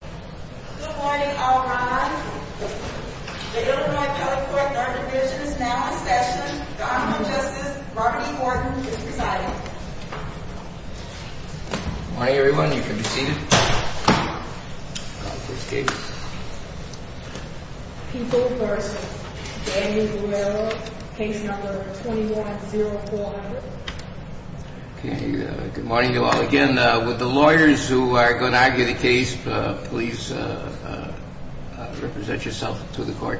Good morning, everyone. You can be seated. People versus Daniel Guerrero, case number 210400. Good morning to all. Again, with the lawyers who are going to argue the case, please represent yourself to the court.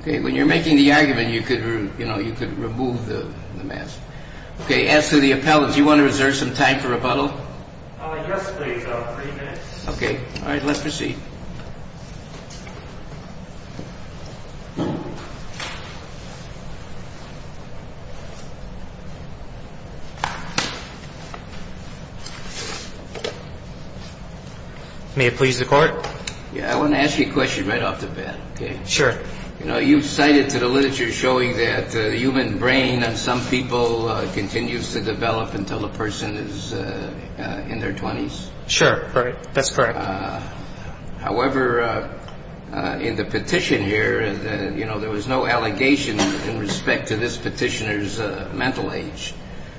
When you're making the argument, you could remove the mask. Okay. As to the appellant, do you want to reserve some time for rebuttal? Yes, please. Three minutes. Okay. All right. Let's proceed. May it please the court? I want to ask you a question right off the bat. Sure. You know, you've cited to the literature showing that the human brain in some people continues to develop until the person is in their 20s. Sure. That's correct. However, in the petition here, you know, there was no allegation in respect to this petitioner's mental age.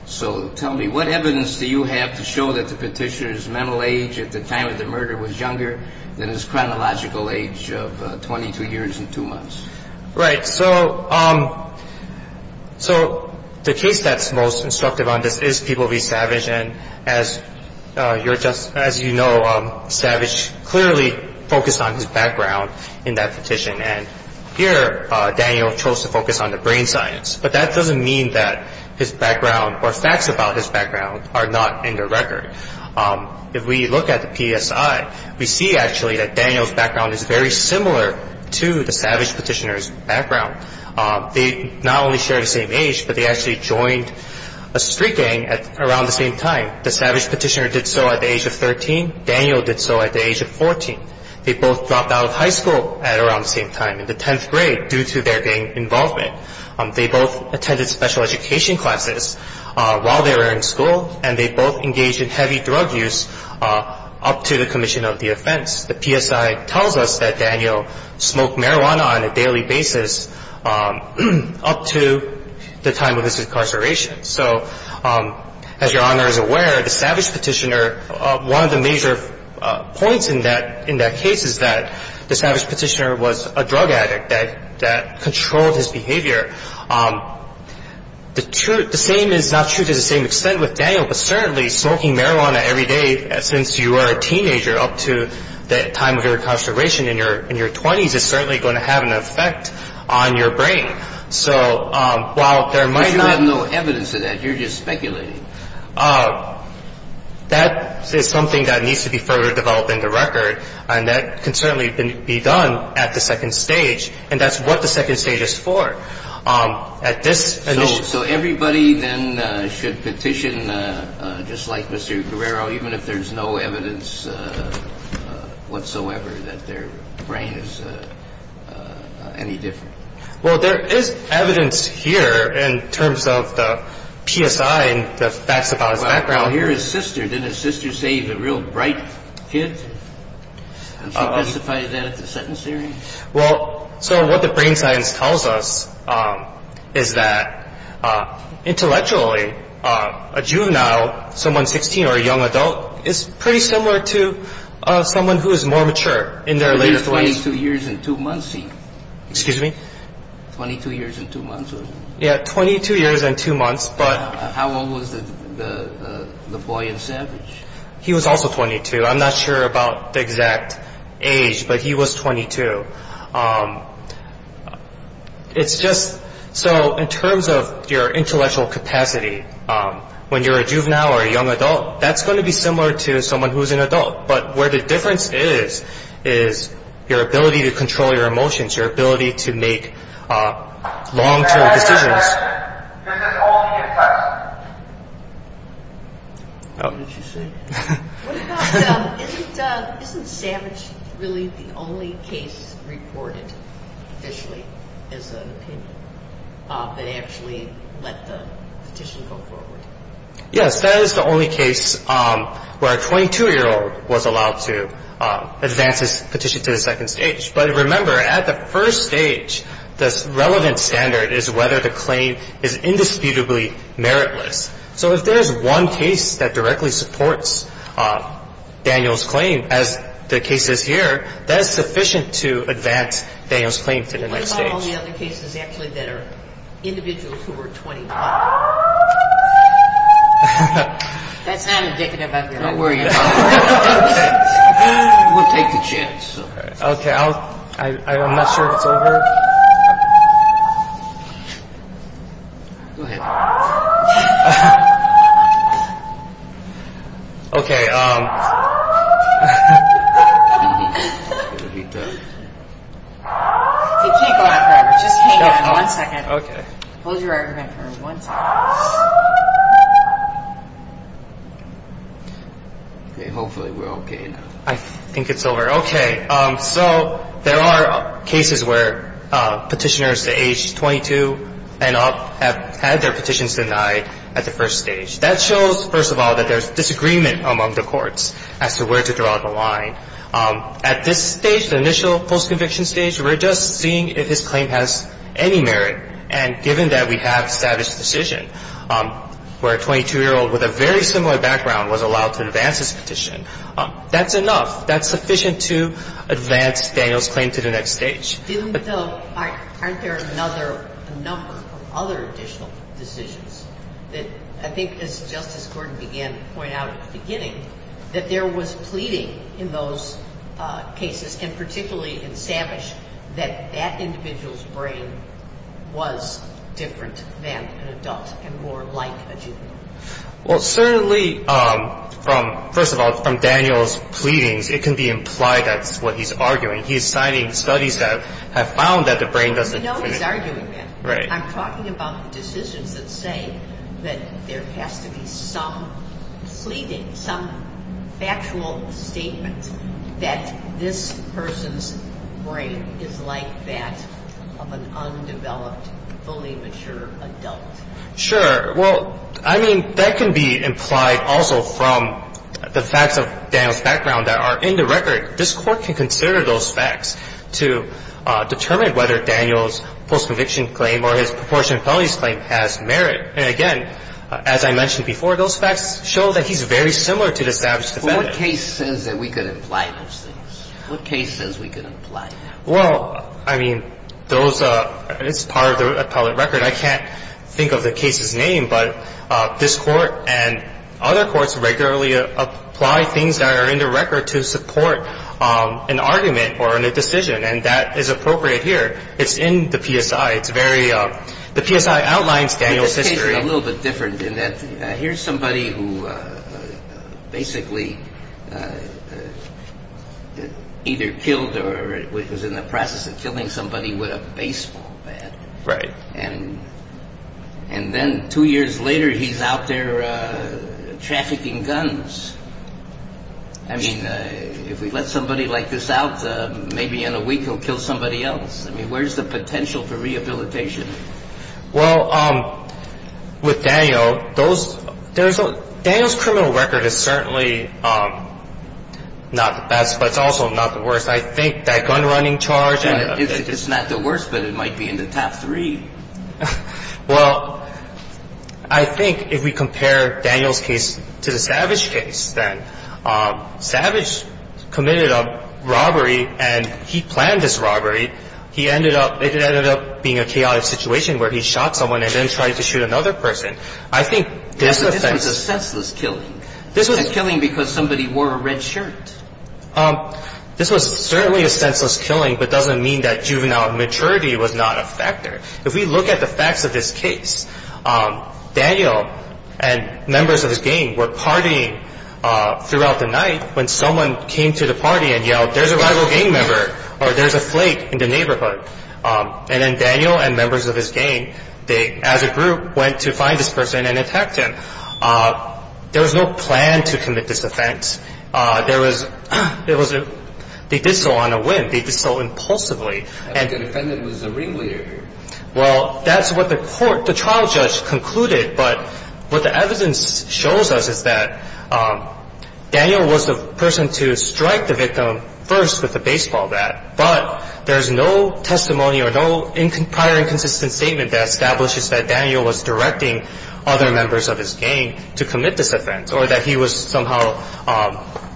So tell me, what evidence do you have to show that the petitioner's mental age at the time of the murder was younger than his chronological age of 22 years and two months? Right. So the case that's most instructive on this is People v. Savage. And as you know, Savage clearly focused on his background in that petition. And here, Daniel chose to focus on the brain science. But that doesn't mean that his background or facts about his background are not in the record. If we look at the PSI, we see actually that Daniel's background is very similar to the Savage petitioner's background. They not only share the same age, but they actually joined a street gang at around the same time. The Savage petitioner did so at the age of 13. Daniel did so at the age of 14. They both dropped out of high school at around the same time, in the 10th grade, due to their gang involvement. They both attended special education classes while they were in school. And they both engaged in heavy drug use up to the commission of the offense. The PSI tells us that Daniel smoked marijuana on a daily basis up to the time of his incarceration. So as Your Honor is aware, the Savage petitioner, one of the major points in that case is that the Savage petitioner was a drug addict that controlled his behavior. The same is not true to the same extent with Daniel, but certainly smoking marijuana every day since you were a teenager up to the time of your incarceration in your 20s is certainly going to have an effect on your brain. So while there might not be no evidence of that, you're just speculating. That is something that needs to be further developed into record, and that can certainly be done at the second stage. And that's what the second stage is for. At this initial stage. So everybody then should petition just like Mr. Guerrero, even if there's no evidence whatsoever that their brain is any different? Well, there is evidence here in terms of the PSI and the facts about his background. Well, here is his sister. Didn't his sister say he's a real bright kid? Did she specify that at the sentence hearing? Well, so what the brain science tells us is that intellectually, a juvenile, someone 16 or a young adult, is pretty similar to someone who is more mature in their later 20s. He was 22 years and 2 months. Excuse me? 22 years and 2 months. Yeah, 22 years and 2 months. How old was the boy in Savage? He was also 22. I'm not sure about the exact age, but he was 22. So in terms of your intellectual capacity, when you're a juvenile or a young adult, that's going to be similar to someone who is an adult. But where the difference is, is your ability to control your emotions, your ability to make long-term decisions. This is only a test. What about, isn't Savage really the only case reported officially as an opinion that actually let the petition go forward? Yes, that is the only case where a 22-year-old was allowed to advance his petition to the second stage. But remember, at the first stage, the relevant standard is whether the claim is indisputably meritless. So if there is one case that directly supports Daniel's claim, as the case is here, that is sufficient to advance Daniel's claim to the next stage. What about all the other cases, actually, that are individuals who are 25? That's not indicative of that. Don't worry about it. We'll take the chance. Okay, I'm not sure if it's over. Go ahead. Okay. He can't go on forever. Just hang on one second. Okay. Hold your argument for one second. Okay, hopefully we're okay now. I think it's over. Okay. So there are cases where Petitioners aged 22 and up have had their petitions denied at the first stage. That shows, first of all, that there's disagreement among the courts as to where to draw the line. At this stage, the initial post-conviction stage, we're just seeing if his claim has any merit. And given that we have Savage's decision, where a 22-year-old with a very similar background was allowed to advance his petition, that's enough. That's sufficient to advance Daniel's claim to the next stage. Even though aren't there another number of other additional decisions that I think, as Justice Gordon began to point out at the beginning, that there was pleading in those cases, and particularly in Savage, that that individual's brain was different than an adult and more like a juvenile? Well, certainly from, first of all, from Daniel's pleadings, it can be implied that's what he's arguing. He's citing studies that have found that the brain doesn't. I know he's arguing that. Right. I'm talking about decisions that say that there has to be some pleading, some factual statement that this person's brain is like that of an undeveloped, fully mature adult. fully mature adult. Sure. Well, I mean, that can be implied also from the facts of Daniel's background that are in the record. This Court can consider those facts to determine whether Daniel's post-conviction claim or his proportionate felonies claim has merit. And, again, as I mentioned before, those facts show that he's very similar to the Savage defendant. But what case says that we could imply those things? What case says we could imply that? Well, I mean, those are part of the appellate record. I can't think of the case's name, but this Court and other courts regularly apply things that are in the record to support an argument or a decision, and that is appropriate here. It's in the PSI. It's very – the PSI outlines Daniel's history. It's a little bit different in that here's somebody who basically either killed or was in the process of killing somebody with a baseball bat. Right. And then two years later, he's out there trafficking guns. I mean, if we let somebody like this out, maybe in a week he'll kill somebody else. I mean, where's the potential for rehabilitation? Well, with Daniel, those – there's – Daniel's criminal record is certainly not the best, but it's also not the worst. I think that gunrunning charge and – It's not the worst, but it might be in the top three. Well, I think if we compare Daniel's case to the Savage case, then Savage committed a robbery, and he planned this robbery. He ended up – it ended up being a chaotic situation where he shot someone and then tried to shoot another person. I think this offense – This was a senseless killing. This was – A killing because somebody wore a red shirt. This was certainly a senseless killing, but it doesn't mean that juvenile maturity was not a factor. If we look at the facts of this case, Daniel and members of his gang were partying throughout the night when someone came to the party and yelled, there's a rival gang member, or there's a flake in the neighborhood. And then Daniel and members of his gang, they, as a group, went to find this person and attacked him. There was no plan to commit this offense. There was – there was a – they did so on a whim. They did so impulsively. The defendant was the ringleader. Well, that's what the court – the trial judge concluded. But what the evidence shows us is that Daniel was the person to strike the victim first with the baseball bat. But there's no testimony or no prior inconsistent statement that establishes that Daniel was directing other members of his gang to commit this offense, or that he was somehow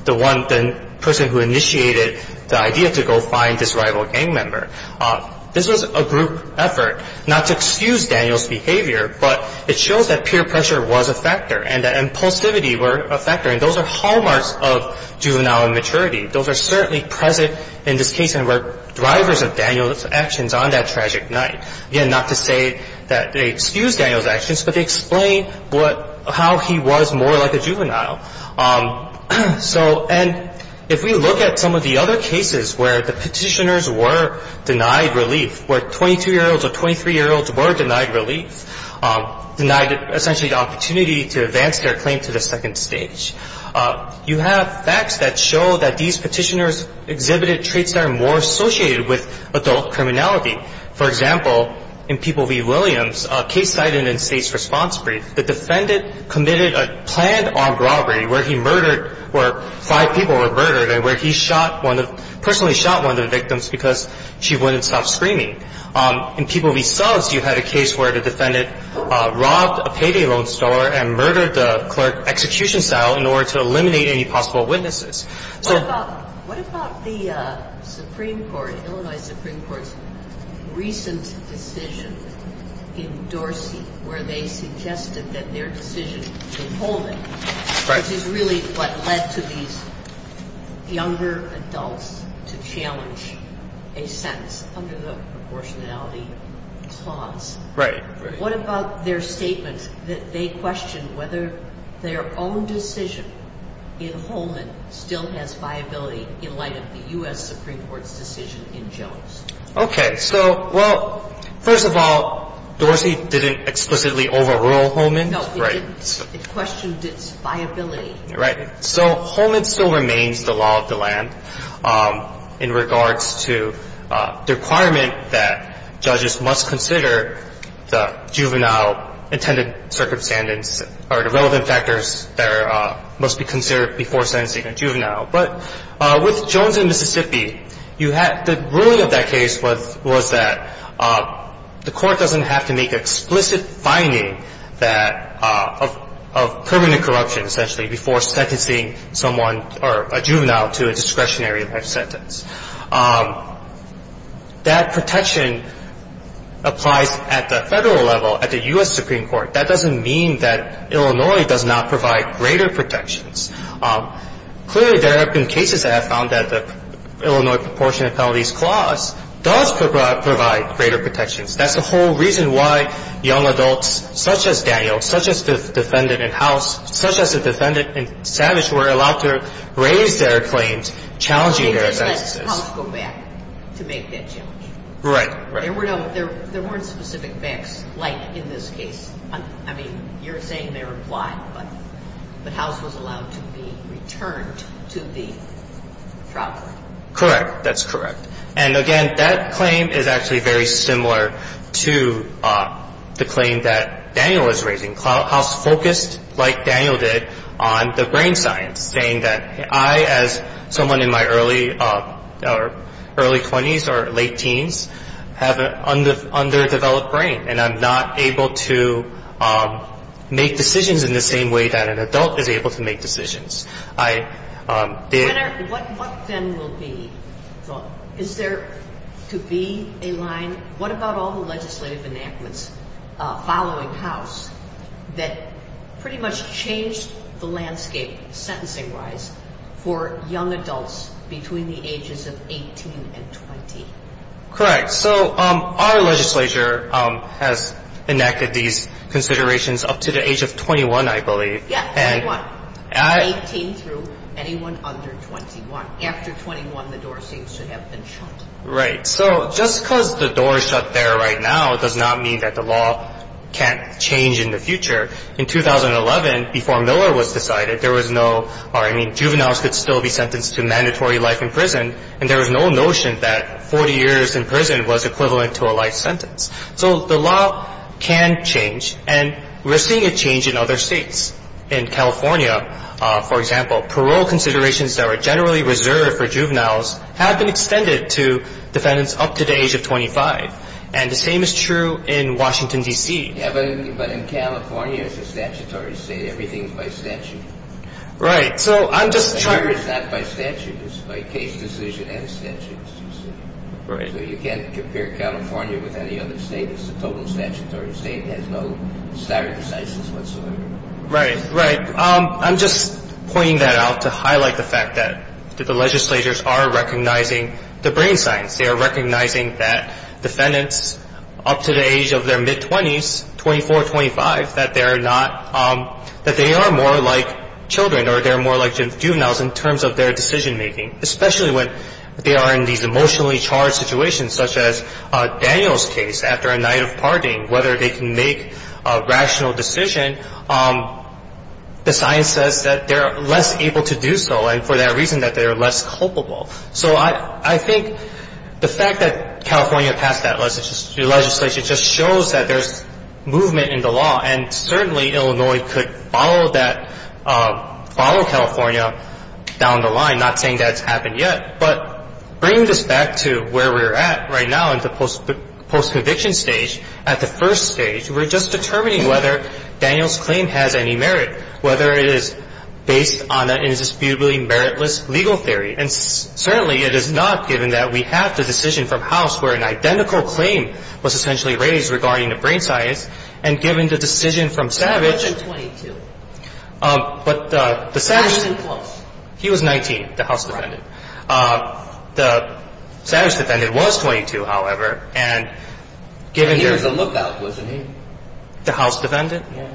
the one – the person who initiated the idea to go find this rival gang member. This was a group effort not to excuse Daniel's behavior, but it shows that peer pressure was a factor and that impulsivity were a factor, and those are hallmarks of juvenile immaturity. Those are certainly present in this case and were drivers of Daniel's actions on that tragic night. Again, not to say that they excuse Daniel's actions, but they explain what – how he was more like a juvenile. So – and if we look at some of the other cases where the Petitioners were denied relief, where 22-year-olds or 23-year-olds were denied relief, denied essentially the opportunity to advance their claim to the second stage, you have facts that show that these Petitioners exhibited traits that are more associated with adult criminality. For example, in People v. Williams, a case cited in State's response brief, the defendant committed a planned armed robbery where he murdered – where five people were murdered and where he shot one of – personally shot one of the victims because she wouldn't stop screaming. In People v. Sons, you had a case where the defendant robbed a payday loan store and murdered the clerk execution cell in order to eliminate any possible witnesses. So – What about – what about the Supreme Court, Illinois Supreme Court's recent decision in Dorsey where they suggested that their decision in Holman – Right. – which is really what led to these younger adults to challenge a sentence under the proportionality clause? Right. What about their statement that they questioned whether their own decision in Holman still has viability in light of the U.S. Supreme Court's decision in Jones? Okay. So, well, first of all, Dorsey didn't explicitly overrule Holman. No, it didn't. It questioned its viability. Right. So Holman still remains the law of the land in regards to the requirement that judges must consider the juvenile intended circumstance or the relevant factors that are – must be considered before sentencing a juvenile. But with Jones and Mississippi, you had – the ruling of that case was that the Court doesn't have to make explicit finding that – of permanent corruption, essentially, before sentencing someone or a juvenile to a discretionary life sentence. That protection applies at the federal level, at the U.S. Supreme Court. That doesn't mean that Illinois does not provide greater protections. Clearly, there have been cases that have found that the Illinois proportionality clause does provide greater protections. That's the whole reason why young adults such as Daniel, such as the defendant in House, such as the defendant in Savage, were allowed to raise their claims challenging their sentences. How does House go back to make that change? Right. There were no – there weren't specific backs like in this case. I mean, you're saying they're implied, but House was allowed to be returned to the trial court. Correct. That's correct. And, again, that claim is actually very similar to the claim that Daniel was raising. House focused, like Daniel did, on the brain science, saying that I, as someone in my early or early 20s or late teens, have an underdeveloped brain, and I'm not able to make decisions in the same way that an adult is able to make decisions. I did – What then will be – is there to be a line? What about all the legislative enactments following House that pretty much changed the landscape sentencing-wise for young adults between the ages of 18 and 20? Correct. So our legislature has enacted these considerations up to the age of 21, I believe. Yes, 21. 18 through anyone under 21. After 21, the door seems to have been shut. Right. So just because the door is shut there right now does not mean that the law can't change in the future. In 2011, before Miller was decided, there was no – or, I mean, juveniles could still be sentenced to mandatory life in prison, and there was no notion that 40 years in prison was equivalent to a life sentence. So the law can change, and we're seeing a change in other states. In California, for example, parole considerations that were generally reserved for juveniles have been extended to defendants up to the age of 25. And the same is true in Washington, D.C. Yes, but in California, it's a statutory state. Everything is by statute. Right. So I'm just trying to – It's not by statute. It's by case decision and statutes, you see. Right. So you can't compare California with any other state. It's a total statutory state. It has no stare decisis whatsoever. Right. Right. I'm just pointing that out to highlight the fact that the legislatures are recognizing the brain science. They are recognizing that defendants up to the age of their mid-20s, 24, 25, that they are not – that they are more like children or they're more like juveniles in terms of their decision-making, especially when they are in these emotionally charged situations, such as Daniel's case after a night of partying, whether they can make a rational decision. The science says that they are less able to do so and for that reason that they are less culpable. So I think the fact that California passed that legislation just shows that there's movement in the law. And certainly, Illinois could follow that – follow California down the line, not saying that it's happened yet. But bringing this back to where we're at right now in the post-conviction stage, at the first stage, we're just determining whether Daniel's claim has any merit, whether it is based on an indisputably meritless legal theory. And certainly, it is not given that we have the decision from House where an identical claim was essentially raised regarding the brain science. And given the decision from Savage – He wasn't 22. But the – He wasn't close. He was 19, the House defendant. Right. The Savage defendant was 22, however, and given – There was a lookout, wasn't he? The House defendant? Yeah.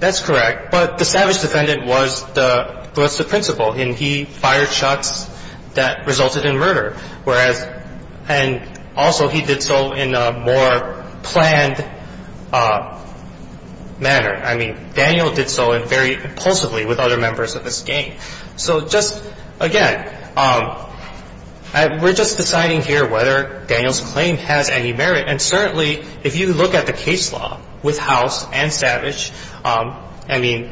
That's correct. But the Savage defendant was the principal and he fired shots that resulted in murder. Whereas – and also, he did so in a more planned manner. I mean, Daniel did so very impulsively with other members of his gang. So just, again, we're just deciding here whether Daniel's claim has any merit. And certainly, if you look at the case law with House and Savage, I mean,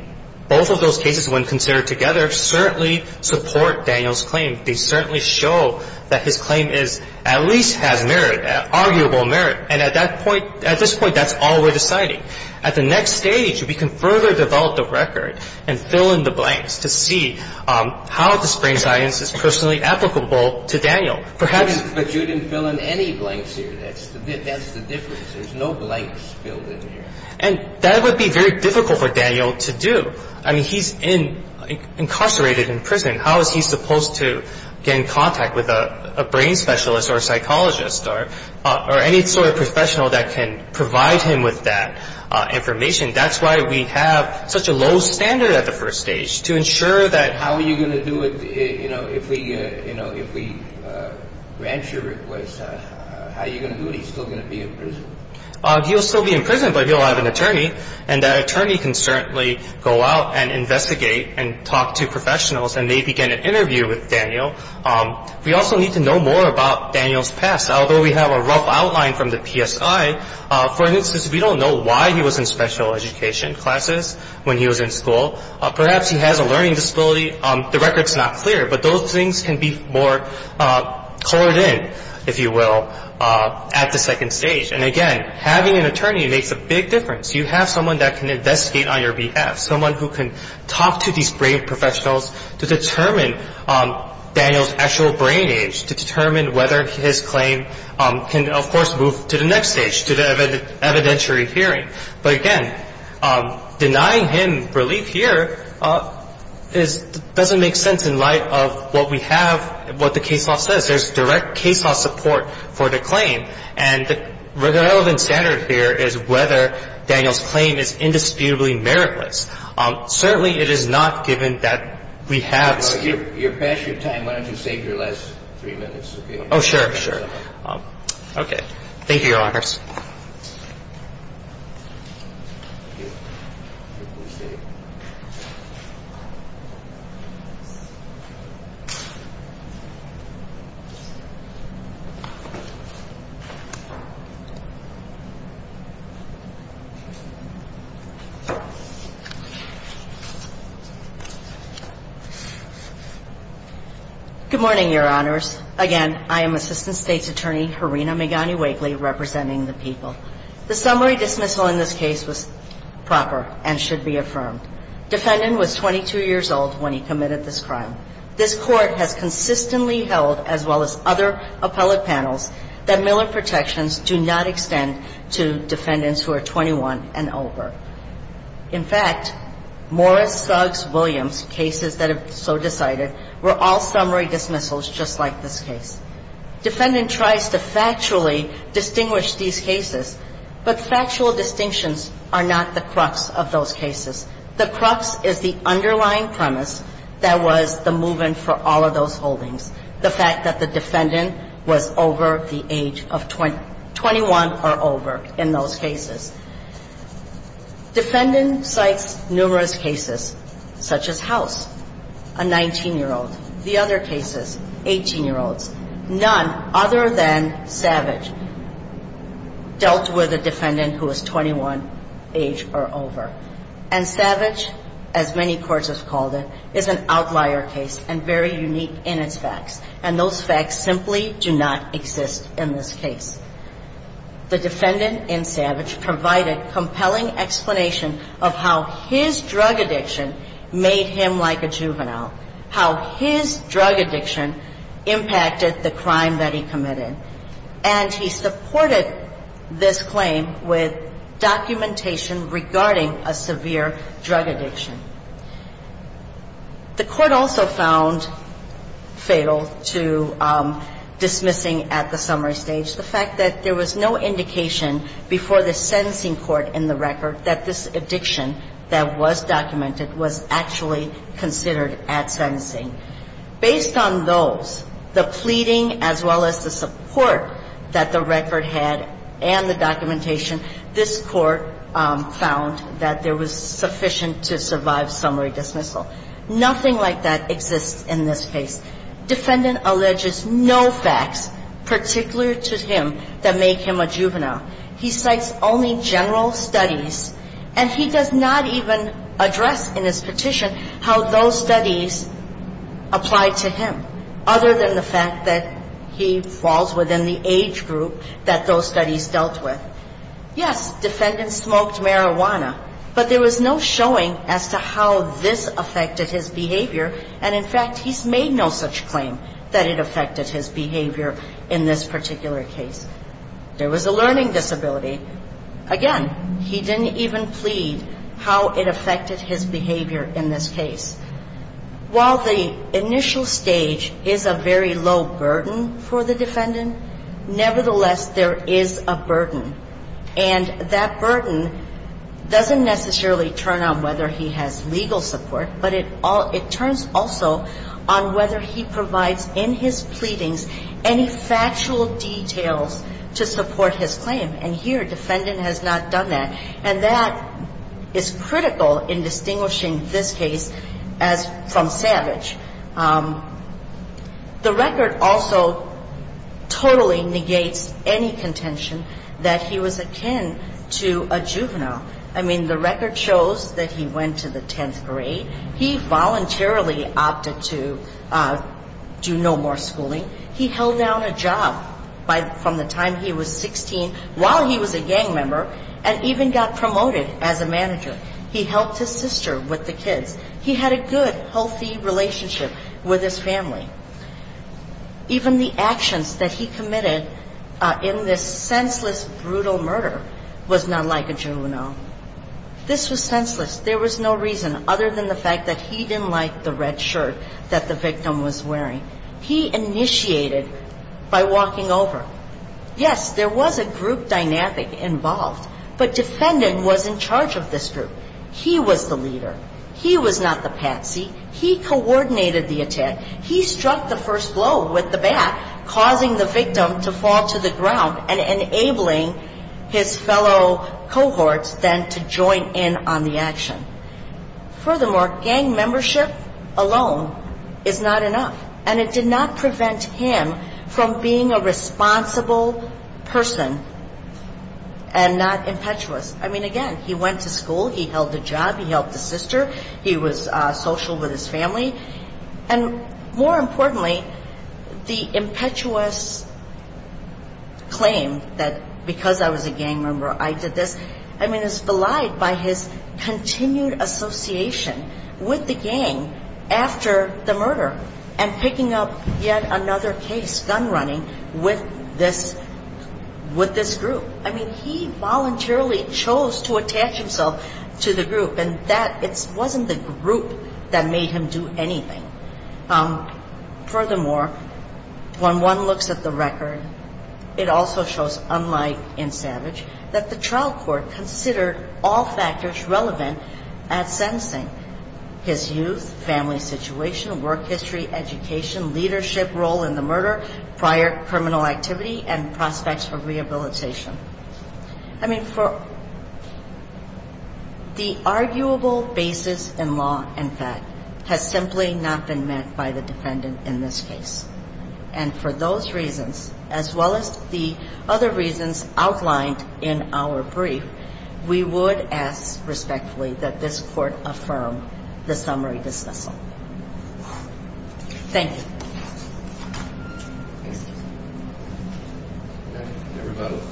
both of those cases, when considered together, certainly support Daniel's claim. They certainly show that his claim is – at least has merit, arguable merit. And at that point – at this point, that's all we're deciding. At the next stage, we can further develop the record and fill in the blanks to see how the brain science is personally applicable to Daniel. Perhaps – That's the difference. There's no blanks filled in here. And that would be very difficult for Daniel to do. I mean, he's incarcerated in prison. How is he supposed to get in contact with a brain specialist or a psychologist or any sort of professional that can provide him with that information? That's why we have such a low standard at the first stage, to ensure that how are you going to do it, if we grant your request, how are you going to do it? He's still going to be in prison. He'll still be in prison, but he'll have an attorney. And that attorney can certainly go out and investigate and talk to professionals, and they begin an interview with Daniel. We also need to know more about Daniel's past. Although we have a rough outline from the PSI, for instance, we don't know why he was in special education classes when he was in school. Perhaps he has a learning disability. The record's not clear, but those things can be more colored in, if you will, at the second stage. And again, having an attorney makes a big difference. You have someone that can investigate on your behalf, someone who can talk to these brain professionals to determine Daniel's actual brain age, to determine whether his claim can, of course, move to the next stage, to the evidentiary hearing. But again, denying him relief here doesn't make sense in light of what we have, what the case law says. There's direct case law support for the claim. And the relevant standard here is whether Daniel's claim is indisputably meritless. Certainly it is not given that we have. You're past your time. Why don't you save your last three minutes? Oh, sure, sure. Okay. Thank you, Your Honors. Thank you. I appreciate it. Good morning, Your Honors. Again, I am Assistant State's Attorney Harina Megani-Wakely, representing the people. The summary dismissal in this case was proper and should be affirmed. Defendant was 22 years old when he committed this crime. This Court has consistently held, as well as other appellate panels, that Miller protections do not extend to defendants who are 21 and over. In fact, Morris, Suggs, Williams, cases that have so decided, were all summary dismissals just like this case. Defendant tries to factually distinguish these cases, but factual distinctions are not the crux of those cases. The crux is the underlying premise that was the movement for all of those holdings, the fact that the defendant was over the age of 21 or over in those cases. Defendant cites numerous cases, such as House, a 19-year-old. The other cases, 18-year-olds. None other than Savage dealt with a defendant who was 21 age or over. And Savage, as many courts have called it, is an outlier case and very unique in its facts. And those facts simply do not exist in this case. The defendant in Savage provided compelling explanation of how his drug addiction made him like a juvenile, how his drug addiction impacted the crime that he committed. And he supported this claim with documentation regarding a severe drug addiction. The Court also found fatal to dismissing at the summary stage the fact that there was no indication before the sentencing court in the record that this addiction that was documented was actually considered at sentencing. Based on those, the pleading as well as the support that the record had and the documentation, this Court found that there was sufficient to survive summary dismissal. Nothing like that exists in this case. Defendant alleges no facts particular to him that make him a juvenile. He cites only general studies, and he does not even address in his petition how those studies apply to him, other than the fact that he falls within the age group that those studies dealt with. Yes, defendant smoked marijuana, but there was no showing as to how this affected his behavior. And, in fact, he's made no such claim that it affected his behavior in this particular case. There was a learning disability. Again, he didn't even plead how it affected his behavior in this case. While the initial stage is a very low burden for the defendant, nevertheless, there is a burden. And that burden doesn't necessarily turn on whether he has legal support, but it turns also on whether he provides in his pleadings any factual details to support his claim. And here, defendant has not done that. And that is critical in distinguishing this case from Savage. The record also totally negates any contention that he was akin to a juvenile. I mean, the record shows that he went to the 10th grade. He voluntarily opted to do no more schooling. He held down a job from the time he was 16 while he was a gang member and even got promoted as a manager. He helped his sister with the kids. He had a good, healthy relationship with his family. Even the actions that he committed in this senseless, brutal murder was not like a juvenile. This was senseless. There was no reason other than the fact that he didn't like the red shirt that the victim was wearing. He initiated by walking over. Yes, there was a group dynamic involved, but defendant was in charge of this group. He was the leader. He was not the patsy. He coordinated the attack. He struck the first blow with the bat, causing the victim to fall to the ground and enabling his fellow cohorts then to join in on the action. Furthermore, gang membership alone is not enough. And it did not prevent him from being a responsible person and not impetuous. I mean, again, he went to school. He held a job. He helped his sister. He was social with his family. And more importantly, the impetuous claim that because I was a gang member I did this, I mean, is belied by his continued association with the gang after the murder and picking up yet another case, gun running, with this group. I mean, he voluntarily chose to attach himself to the group, and it wasn't the group that made him do anything. Furthermore, when one looks at the record, it also shows, unlike in Savage, that the trial court considered all factors relevant at sentencing, his youth, family situation, work history, education, leadership role in the murder, prior criminal activity, and prospects for rehabilitation. I mean, the arguable basis in law, in fact, has simply not been met by the defendant in this case. And for those reasons, as well as the other reasons outlined in our brief, we would ask respectfully that this court affirm the summary dismissal. Thank you. May I have your vote?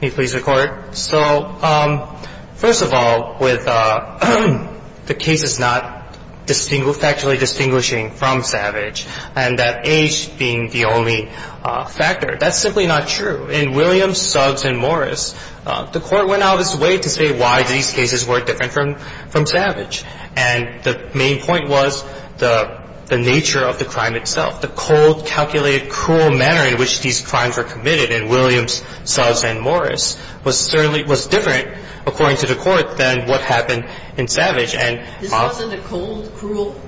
May I please record? So, first of all, with the case is not factually distinguishing from Savage, and that age being the only factor. That's simply not true. In Williams, Suggs, and Morris, the court went out of its way to say why these cases were different from Savage. And the main point was the nature of the crime itself, the cold, calculated, cruel manner in which these crimes were committed in Williams, Suggs, and Morris This wasn't a cold, cruel,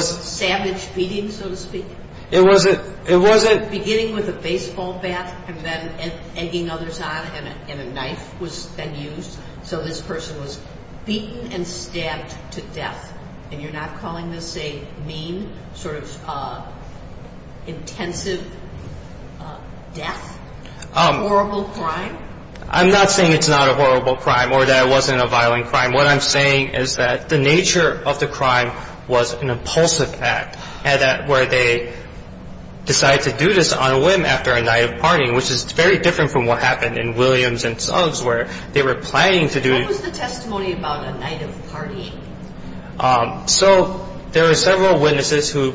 savage beating, so to speak? It wasn't. Beginning with a baseball bat and then egging others on, and a knife was then used. So this person was beaten and stabbed to death. And you're not calling this a mean, sort of intensive death? A horrible crime? I'm not saying it's not a horrible crime or that it wasn't a violent crime. What I'm saying is that the nature of the crime was an impulsive act, where they decided to do this on a whim after a night of partying, which is very different from what happened in Williams and Suggs, where they were planning to do it. What was the testimony about a night of partying? So there were several witnesses who,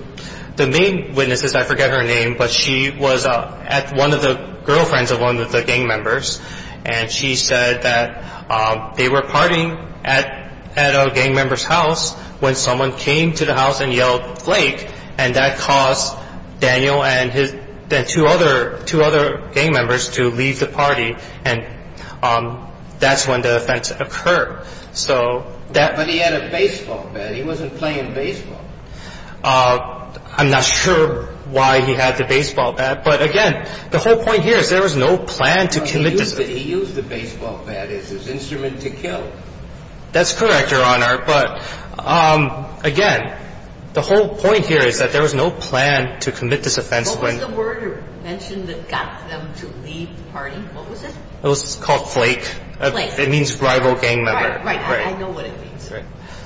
the main witness is, I forget her name, but she was at one of the girlfriends of one of the gang members, and she said that they were partying at a gang member's house when someone came to the house and yelled, Flake, and that caused Daniel and two other gang members to leave the party, and that's when the offense occurred. But he had a baseball bat. He wasn't playing baseball. I'm not sure why he had the baseball bat, but, again, the whole point here is there was no plan to commit this offense. He used the baseball bat as his instrument to kill. That's correct, Your Honor, but, again, the whole point here is that there was no plan to commit this offense. What was the word you mentioned that got them to leave the party? What was it? It was called Flake. Flake. It means rival gang member. Right, right. I know what it means.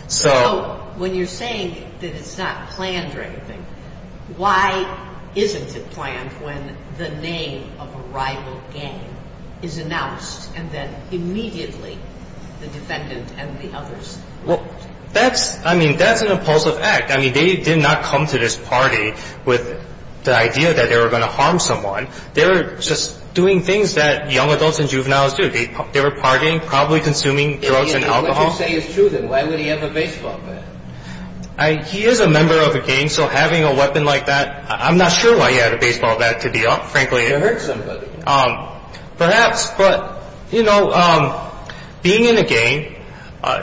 So when you're saying that it's not planned or anything, why isn't it planned when the name of a rival gang is announced and then immediately the defendant and the others left? Well, that's an impulsive act. I mean, they did not come to this party with the idea that they were going to harm someone. They were just doing things that young adults and juveniles do. They were partying, probably consuming drugs and alcohol. If what you say is true, then why would he have a baseball bat? He is a member of a gang, so having a weapon like that, I'm not sure why he had a baseball bat, to be frank. To hurt somebody. Perhaps, but, you know, being in a gang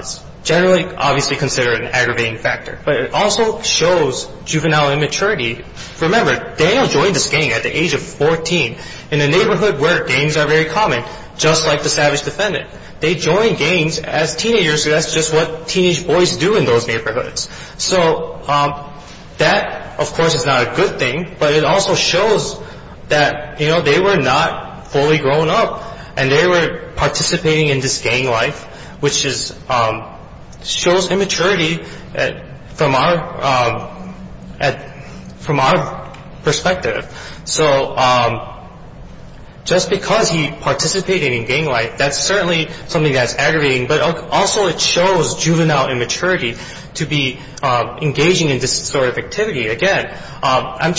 is generally obviously considered an aggravating factor, but it also shows juvenile immaturity. Remember, Daniel joined this gang at the age of 14 in a neighborhood where gangs are very common, just like the savage defendant. They joined gangs as teenagers, so that's just what teenage boys do in those neighborhoods. So that, of course, is not a good thing, but it also shows that, you know, they were not fully grown up and they were participating in this gang life, which shows immaturity from our perspective. So just because he participated in gang life, that's certainly something that's aggravating, but also it shows juvenile immaturity to be engaging in this sort of activity. Again, I'm not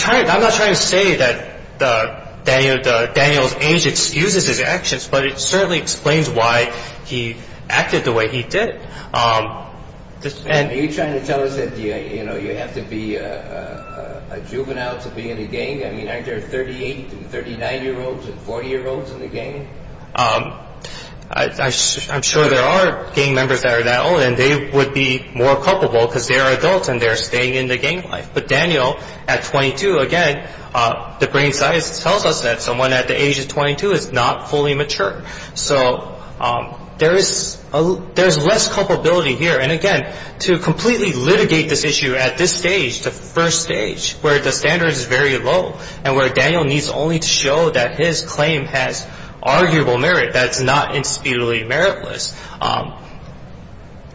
trying to say that Daniel's age excuses his actions, but it certainly explains why he acted the way he did. Are you trying to tell us that, you know, you have to be a juvenile to be in a gang? I mean, aren't there 38- and 39-year-olds and 40-year-olds in the gang? I'm sure there are gang members that are that old, and they would be more culpable because they are adults and they're staying in the gang life. But Daniel, at 22, again, the brain science tells us that someone at the age of 22 is not fully mature. So there is less culpability here. And, again, to completely litigate this issue at this stage, the first stage, where the standard is very low and where Daniel needs only to show that his claim has arguable merit, that it's not indisputably meritless,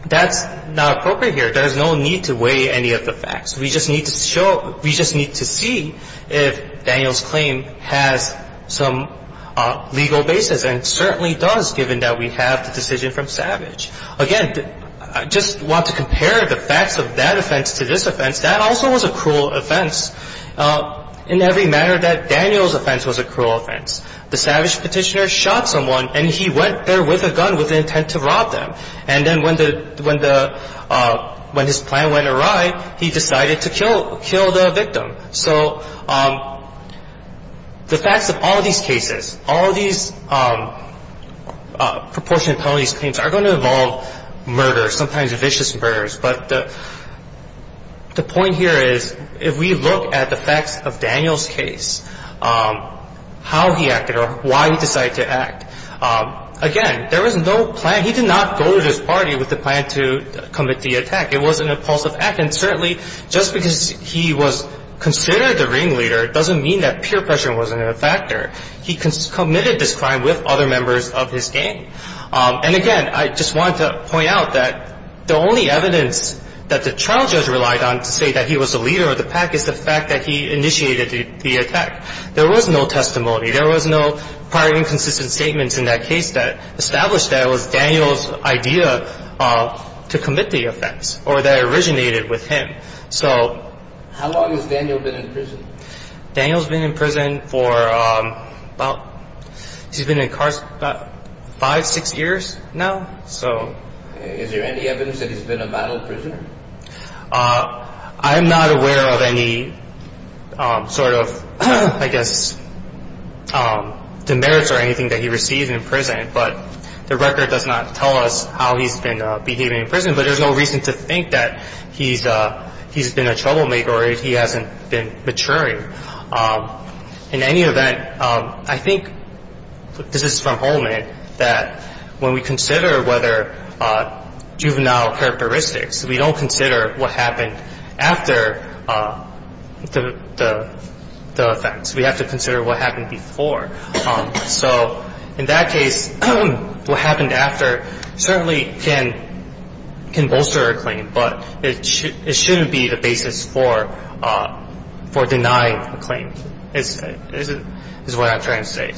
that's not appropriate here. There's no need to weigh any of the facts. We just need to show – we just need to see if Daniel's claim has some legal basis, and it certainly does, given that we have the decision from Savage. Again, I just want to compare the facts of that offense to this offense. That also was a cruel offense in every manner that Daniel's offense was a cruel offense. The Savage Petitioner shot someone, and he went there with a gun with the intent to rob them. And then when the – when the – when his plan went awry, he decided to kill – kill the victim. So the facts of all these cases, all these proportionate penalties claims, are going to involve murder, sometimes vicious murders. But the point here is, if we look at the facts of Daniel's case, how he acted or why he decided to act, again, there was no plan. He did not go to this party with the plan to commit the attack. It was an impulsive act. And certainly, just because he was considered the ringleader doesn't mean that peer pressure wasn't a factor. He committed this crime with other members of his gang. And again, I just want to point out that the only evidence that the trial judge relied on to say that he was the leader of the pack is the fact that he initiated the attack. There was no testimony. There was no prior inconsistent statements in that case that established that it was Daniel's idea to commit the offense or that it originated with him. So – How long has Daniel been in prison? Daniel's been in prison for about – he's been incarcerated about five, six years now. So – Is there any evidence that he's been a violent prisoner? I'm not aware of any sort of, I guess, demerits or anything that he received in prison. But the record does not tell us how he's been behaving in prison. But there's no reason to think that he's been a troublemaker or he hasn't been maturing. In any event, I think – this is from Holman – that when we consider whether juvenile characteristics, we don't consider what happened after the offense. We have to consider what happened before. So in that case, what happened after certainly can bolster a claim, but it shouldn't be the basis for denying a claim is what I'm trying to say.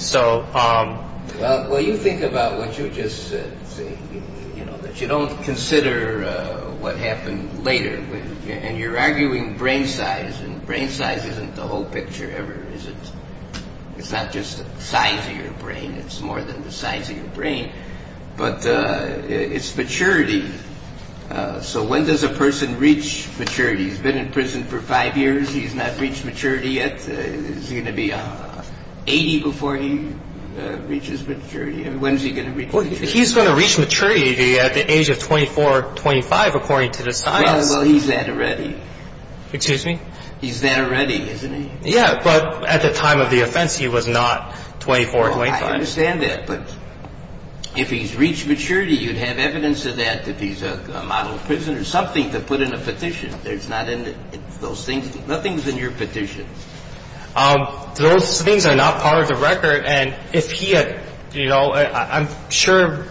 Well, you think about what you just said, that you don't consider what happened later. And you're arguing brain size. And brain size isn't the whole picture ever, is it? It's not just the size of your brain. It's more than the size of your brain. But it's maturity. So when does a person reach maturity? He's been in prison for five years. He's not reached maturity yet. Is he going to be 80 before he reaches maturity? When is he going to reach maturity? Well, he's going to reach maturity at the age of 24 or 25, according to the science. Well, he's that already. Excuse me? He's that already, isn't he? Yeah, but at the time of the offense, he was not 24 or 25. Well, I understand that. But if he's reached maturity, you'd have evidence of that, that he's a model prisoner, something to put in a petition. Nothing's in your petition. Those things are not part of the record. And if he had, you know, I'm sure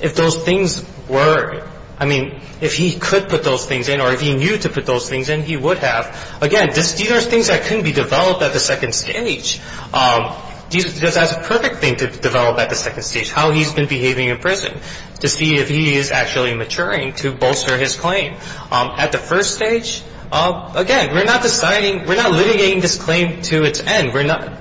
if those things were, I mean, if he could put those things in or if he knew to put those things in, he would have. Again, these are things that can be developed at the second stage. That's a perfect thing to develop at the second stage, how he's been behaving in prison, to see if he is actually maturing to bolster his claim. At the first stage, again, we're not deciding, we're not litigating this claim to its end.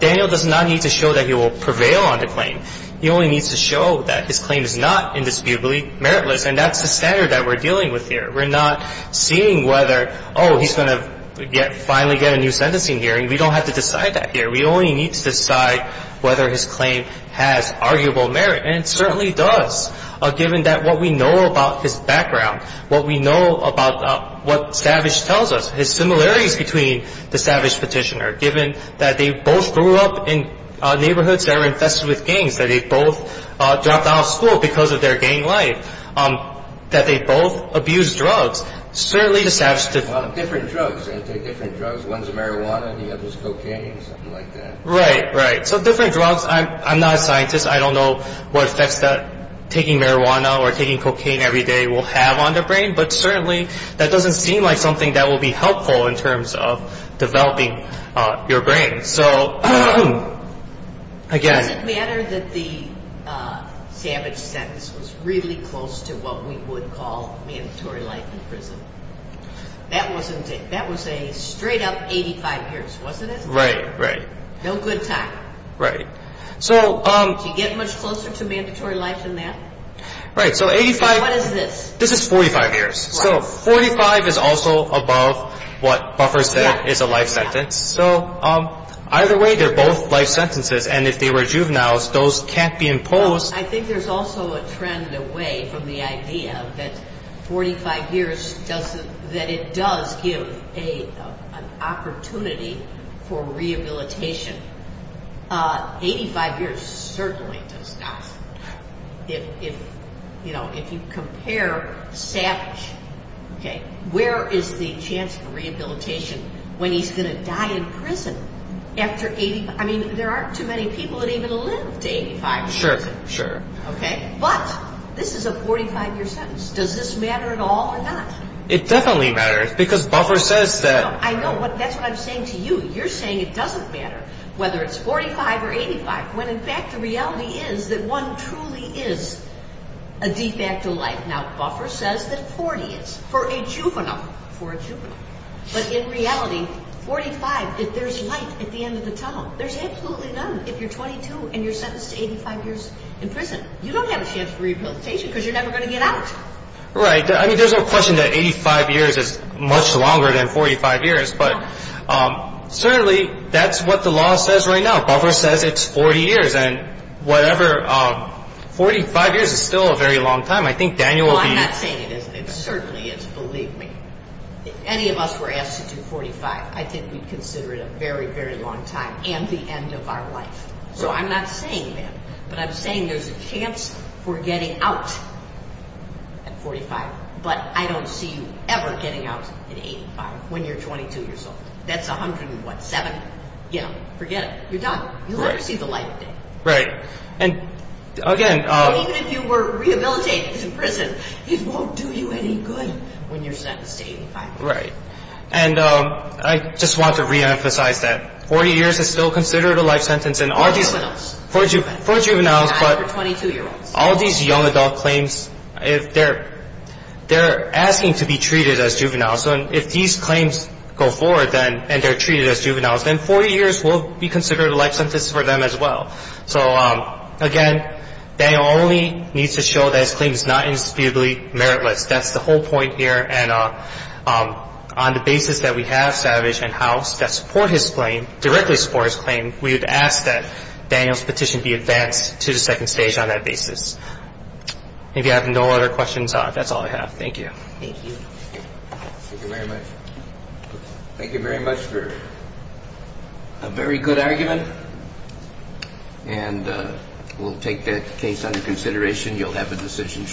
Daniel does not need to show that he will prevail on the claim. He only needs to show that his claim is not indisputably meritless, and that's the standard that we're dealing with here. We're not seeing whether, oh, he's going to finally get a new sentencing hearing. We don't have to decide that here. We only need to decide whether his claim has arguable merit, and it certainly does, given that what we know about his background, what we know about what Savage tells us, his similarities between the Savage petitioner, given that they both grew up in neighborhoods that were infested with gangs, that they both dropped out of school because of their gang life, that they both abused drugs. Certainly, Savage did not. Different drugs. They take different drugs. One's marijuana and the other's cocaine or something like that. Right, right. So different drugs. I'm not a scientist. I don't know what effects taking marijuana or taking cocaine every day will have on the brain, but certainly that doesn't seem like something that will be helpful in terms of developing your brain. So, again. It doesn't matter that the Savage sentence was really close to what we would call mandatory life in prison. That was a straight-up 85 years, wasn't it? Right, right. No good time. Right. Did you get much closer to mandatory life than that? Right. So 85. What is this? This is 45 years. So 45 is also above what Buffer said is a life sentence. So either way, they're both life sentences, and if they were juveniles, those can't be imposed. I think there's also a trend away from the idea that 45 years, that it does give an opportunity for rehabilitation. 85 years certainly does not. If you compare Savage, where is the chance for rehabilitation when he's going to die in prison after 85? I mean, there aren't too many people that even live to 85. Sure, sure. Okay? But this is a 45-year sentence. Does this matter at all or not? It definitely matters because Buffer says that. I know. That's what I'm saying to you. You're saying it doesn't matter whether it's 45 or 85 when, in fact, the reality is that one truly is a de facto life. Now, Buffer says that 40 is for a juvenile. For a juvenile. But in reality, 45, if there's life at the end of the tunnel, there's absolutely none if you're 22 and you're sentenced to 85 years in prison. You don't have a chance for rehabilitation because you're never going to get out. Right. I mean, there's no question that 85 years is much longer than 45 years, but certainly that's what the law says right now. Buffer says it's 40 years, and whatever. 45 years is still a very long time. I think Daniel will be. Well, I'm not saying it isn't. It certainly is. Believe me. If any of us were asked to do 45, I think we'd consider it a very, very long time and the end of our life. So I'm not saying that. But I'm saying there's a chance for getting out at 45, but I don't see you ever getting out at 85 when you're 22 years old. That's 107. Forget it. You're done. You'll never see the light of day. Right. And, again, Even if you were rehabilitated in prison, it won't do you any good when you're sentenced to 85. Right. And I just want to reemphasize that. 40 years is still considered a life sentence. For juveniles. For juveniles, but all these young adult claims, they're asking to be treated as juveniles. So if these claims go forward and they're treated as juveniles, then 40 years will be considered a life sentence for them as well. So, again, Daniel only needs to show that his claim is not indisputably meritless. That's the whole point here. And on the basis that we have Savage and House that support his claim, directly support his claim, we would ask that Daniel's petition be advanced to the second stage on that basis. If you have no other questions, that's all I have. Thank you. Thank you. Thank you very much. Thank you very much for a very good argument. And we'll take that case under consideration. You'll have a decision shortly.